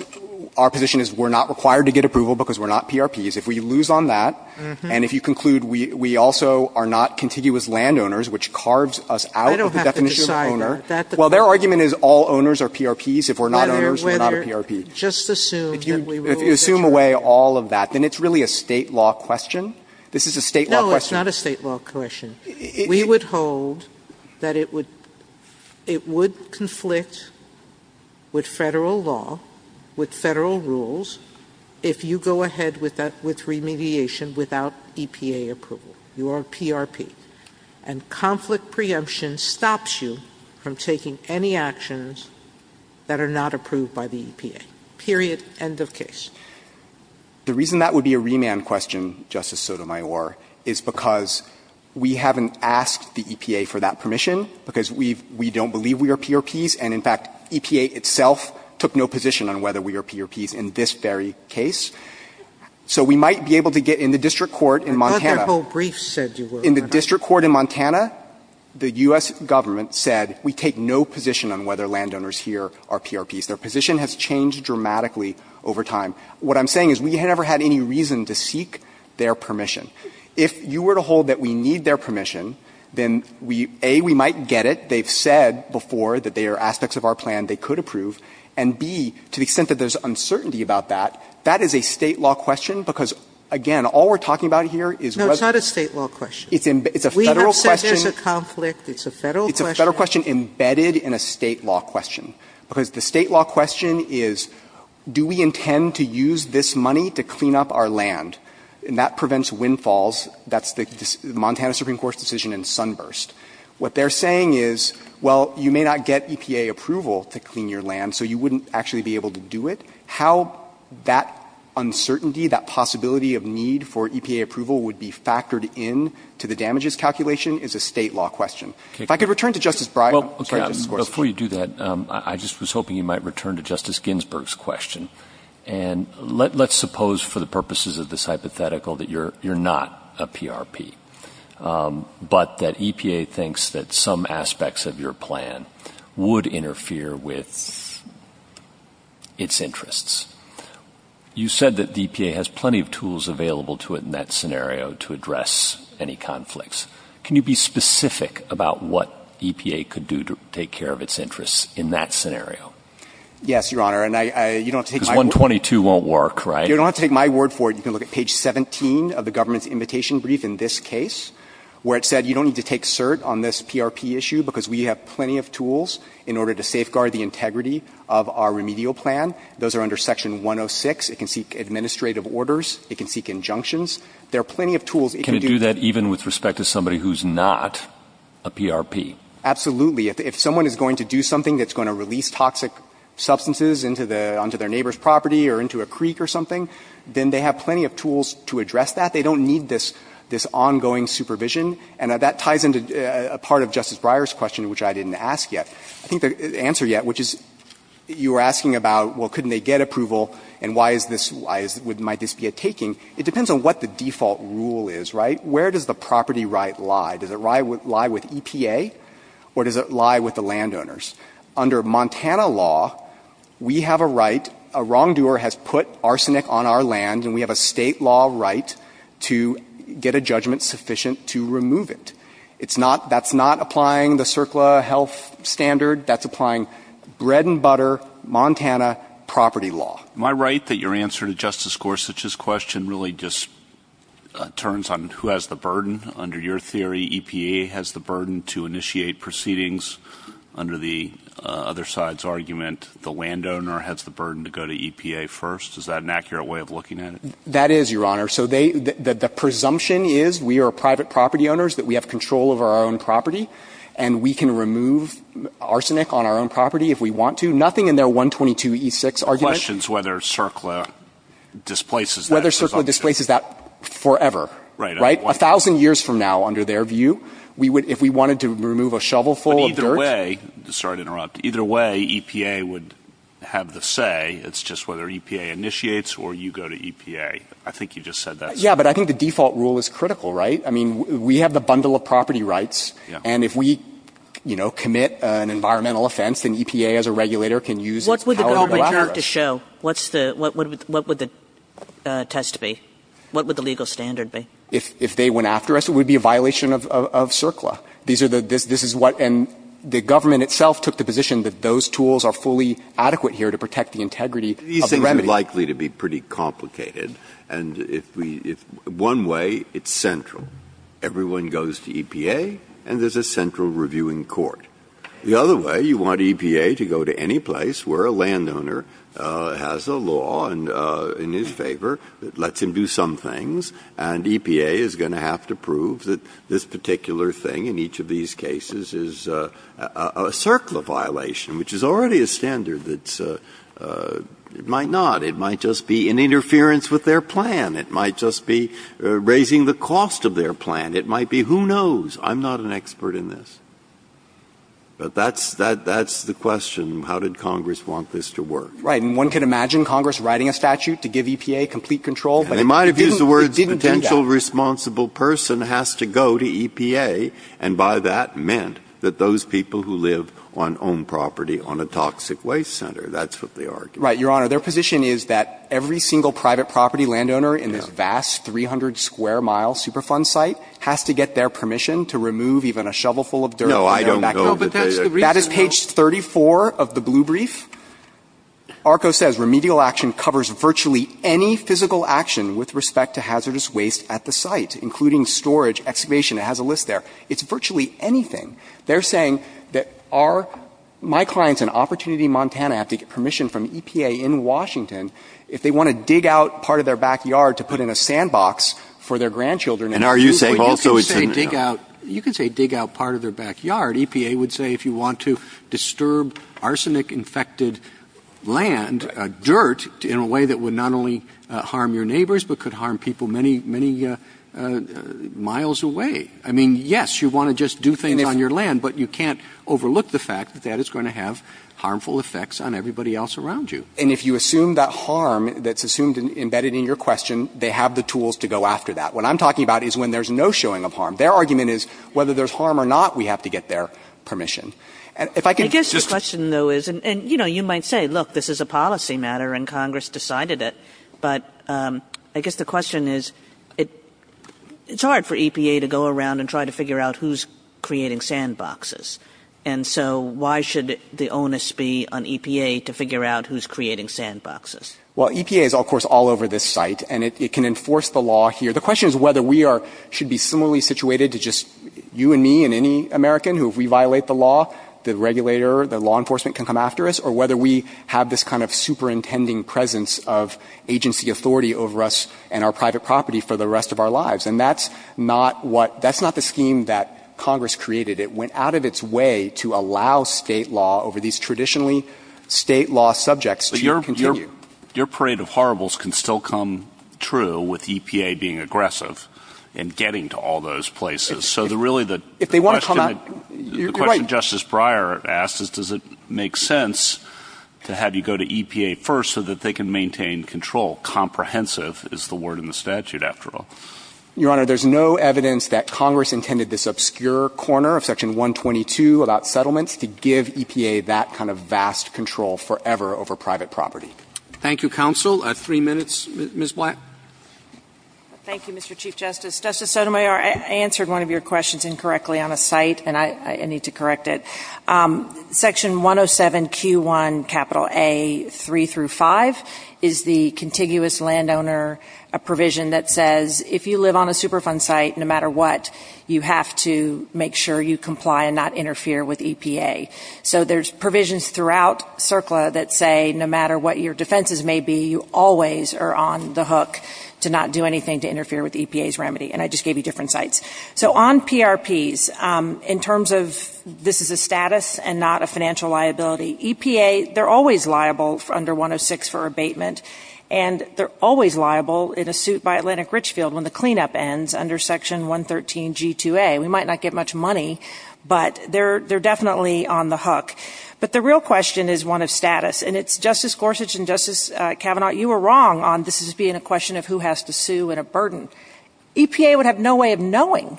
our position is we're not required to get approval because we're not PRPs. If we lose on that, and if you conclude we also are not contiguous landowners, which carves us out of the definition of owner. Well, their argument is all owners are PRPs. If we're not owners, we're not a PRP. If you assume away all of that, then it's really a State law question. This is a State law question. No, it's not a State law question. We would hold that it would conflict with Federal law, with Federal rules, if you go preemption stops you from taking any actions that are not approved by the EPA, period, end of case. The reason that would be a remand question, Justice Sotomayor, is because we haven't asked the EPA for that permission, because we don't believe we are PRPs, and in fact, EPA itself took no position on whether we are PRPs in this very case. So we might be able to get in the district court in Montana. I thought their whole brief said you were. In the district court in Montana, the U.S. Government said we take no position on whether landowners here are PRPs. Their position has changed dramatically over time. What I'm saying is we never had any reason to seek their permission. If you were to hold that we need their permission, then we, A, we might get it. They've said before that there are aspects of our plan they could approve. And, B, to the extent that there's uncertainty about that, that is a State law question, because, again, all we're talking about here is whether. No, it's not a State law question. It's a Federal question. Sotomayor, we have said there's a conflict. It's a Federal question. It's a Federal question embedded in a State law question, because the State law question is do we intend to use this money to clean up our land, and that prevents windfalls. That's the Montana Supreme Court's decision in Sunburst. What they're saying is, well, you may not get EPA approval to clean your land, so you wouldn't actually be able to do it. How that uncertainty, that possibility of need for EPA approval would be factored in to the damages calculation is a State law question. If I could return to Justice Breyer. I'm sorry, Justice Gorsuch. Well, before you do that, I just was hoping you might return to Justice Ginsburg's question. And let's suppose for the purposes of this hypothetical that you're not a PRP, but that EPA thinks that some aspects of your plan would interfere with its interests. You said that the EPA has plenty of tools available to it in that scenario to address any conflicts. Can you be specific about what EPA could do to take care of its interests in that scenario? Yes, Your Honor. And you don't have to take my word for it. Because 122 won't work, right? You don't have to take my word for it. You can look at page 17 of the government's invitation brief in this case, where it said you don't need to take cert on this PRP issue because we have plenty of tools in order to safeguard the integrity of our remedial plan. Those are under section 106. It can seek administrative orders. It can seek injunctions. There are plenty of tools. Can it do that even with respect to somebody who's not a PRP? Absolutely. If someone is going to do something that's going to release toxic substances into their neighbor's property or into a creek or something, then they have plenty of tools to address that. They don't need this ongoing supervision. And that ties into a part of Justice Breyer's question, which I didn't ask yet. I think the answer yet, which is you were asking about, well, couldn't they get approval, and why is this, why is, might this be a taking? It depends on what the default rule is, right? Where does the property right lie? Does it lie with EPA? Or does it lie with the landowners? Under Montana law, we have a right, a wrongdoer has put arsenic on our land, and we have a state law right to get a judgment sufficient to remove it. It's not, that's not applying the CERCLA health standard. That's applying bread and butter Montana property law. Am I right that your answer to Justice Gorsuch's question really just turns on who has the burden? Under your theory, EPA has the burden to initiate proceedings under the other side's argument. The landowner has the burden to go to EPA first. Is that an accurate way of looking at it? That is, Your Honor. So they, the presumption is, we are private property owners, that we have control over our own property, and we can remove arsenic on our own property if we want to. Nothing in their 122E6 argument. The question is whether CERCLA displaces that presumption. Whether CERCLA displaces that forever. Right. Right? A thousand years from now, under their view, we would, if we wanted to remove a shovel full of dirt. But either way, sorry to interrupt, either way, EPA would have the say. It's just whether EPA initiates or you go to EPA. I think you just said that. Yeah, but I think the default rule is critical, right? I mean, we have the bundle of property rights. Yeah. And if we, you know, commit an environmental offense, then EPA as a regulator can use its power to go after us. What would the test be? What would the legal standard be? If they went after us, it would be a violation of CERCLA. These are the, this is what, and the government itself took the position that those tools are fully adequate here to protect the integrity of the remedy. It's likely to be pretty complicated. And if we, one way, it's central. Everyone goes to EPA and there's a central reviewing court. The other way, you want EPA to go to any place where a landowner has a law in his favor, lets him do some things, and EPA is going to have to prove that this particular thing in each of these cases is a CERCLA violation, which is already a standard that's, it might not. It might just be an interference with their plan. It might just be raising the cost of their plan. It might be, who knows? I'm not an expert in this. But that's, that's the question. How did Congress want this to work? Right. And one could imagine Congress writing a statute to give EPA complete control, but it didn't, it didn't do that. And they might have used the words potential responsible person has to go to EPA, and by that meant that those people who live on owned property on a toxic waste center, that's what they argued. Right. Your Honor, their position is that every single private property landowner in this vast 300-square-mile Superfund site has to get their permission to remove even a shovelful of dirt from their backyard. No, I don't believe that. That is page 34 of the blue brief. ARCO says remedial action covers virtually any physical action with respect to hazardous waste at the site, including storage, excavation. It has a list there. It's virtually anything. They're saying that are, my clients in Opportunity, Montana have to get permission from EPA in Washington if they want to dig out part of their backyard to put in a sandbox for their grandchildren. And are you saying also it's a no? You can say dig out, you can say dig out part of their backyard. EPA would say if you want to disturb arsenic-infected land, dirt, in a way that would not only harm your neighbors but could harm people many, many miles away. I mean, yes, you want to just do things on your land, but you can't overlook the fact that that is going to have harmful effects on everybody else around you. And if you assume that harm that's assumed and embedded in your question, they have the tools to go after that. What I'm talking about is when there's no showing of harm. Their argument is whether there's harm or not, we have to get their permission. And if I could just — I guess the question, though, is — and, you know, you might say, look, this is a policy matter and Congress decided it, but I guess the question is it's hard for EPA to go around and try to figure out who's creating sandboxes. And so why should the onus be on EPA to figure out who's creating sandboxes? Well, EPA is, of course, all over this site, and it can enforce the law here. The question is whether we are — should be similarly situated to just you and me and any American who, if we violate the law, the regulator, the law enforcement can come after us, or whether we have this kind of superintending presence of agency authority over us and our private property for the rest of our lives. And that's not what — that's not the scheme that Congress created. It went out of its way to allow State law over these traditionally State law subjects to continue. But your — your parade of horribles can still come true with EPA being aggressive and getting to all those places. So the really — If they want to come out — You're right. Your question, Justice Breyer asked, is does it make sense to have you go to EPA first so that they can maintain control? Comprehensive is the word in the statute, after all. Your Honor, there's no evidence that Congress intended this obscure corner of Section 122 about settlements to give EPA that kind of vast control forever over private property. Thank you, counsel. Three minutes. Ms. Black. Thank you, Mr. Chief Justice. Justice Sotomayor, I answered one of your questions incorrectly on a site, and I need to correct it. Section 107Q1, capital A, three through five, is the contiguous landowner provision that says if you live on a Superfund site, no matter what, you have to make sure you comply and not interfere with EPA. So there's provisions throughout CERCLA that say no matter what your defenses may be, you always are on the hook to not do anything to interfere with EPA's remedy. And I just gave you different sites. So on PRPs, in terms of this is a status and not a financial liability, EPA, they're always liable under 106 for abatement, and they're always liable in a suit by Atlantic Richfield when the cleanup ends under Section 113G2A. We might not get much money, but they're definitely on the hook. But the real question is one of status, and it's, Justice Gorsuch and Justice Kavanaugh, you were wrong on this as being a question of who has to sue and a burden. EPA would have no way of knowing.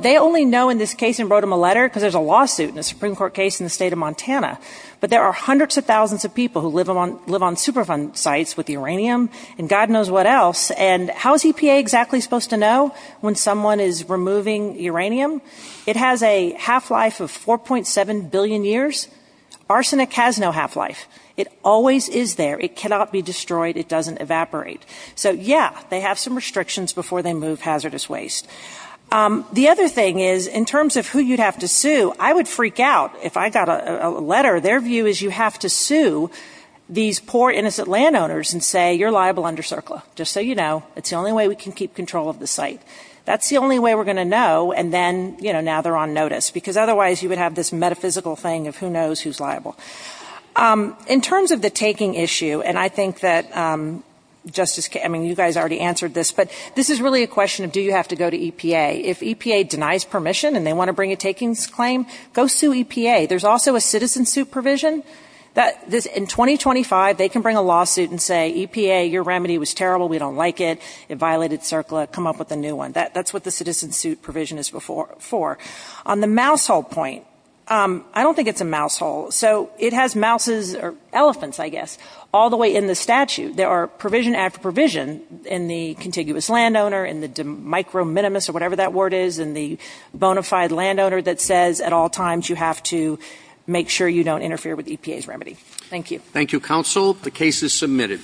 They only know in this case and wrote them a letter because there's a lawsuit in a Supreme Court case in the state of Montana. But there are hundreds of thousands of people who live on Superfund sites with uranium, and God knows what else. And how is EPA exactly supposed to know when someone is removing uranium? It has a half-life of 4.7 billion years. Arsenic has no half-life. It always is there. It cannot be destroyed. It doesn't evaporate. So, yeah, they have some restrictions before they move hazardous waste. The other thing is in terms of who you'd have to sue, I would freak out if I got a letter. Their view is you have to sue these poor, innocent landowners and say you're liable under CERCLA, just so you know. It's the only way we can keep control of the site. That's the only way we're going to know, and then, you know, now they're on notice. Because otherwise you would have this metaphysical thing of who knows who's liable. In terms of the taking issue, and I think that Justice – I mean, you guys already answered this, but this is really a question of do you have to go to EPA. If EPA denies permission and they want to bring a takings claim, go sue EPA. There's also a citizen-suit provision. In 2025, they can bring a lawsuit and say, EPA, your remedy was terrible. We don't like it. It violated CERCLA. Come up with a new one. That's what the citizen-suit provision is for. On the mousehole point, I don't think it's a mousehole. So it has mouses or elephants, I guess, all the way in the statute. There are provision after provision in the contiguous landowner, in the microminimus or whatever that word is, in the bona fide landowner that says at all times you have to make sure you don't interfere with EPA's remedy. Thank you. Thank you, counsel. The case is submitted.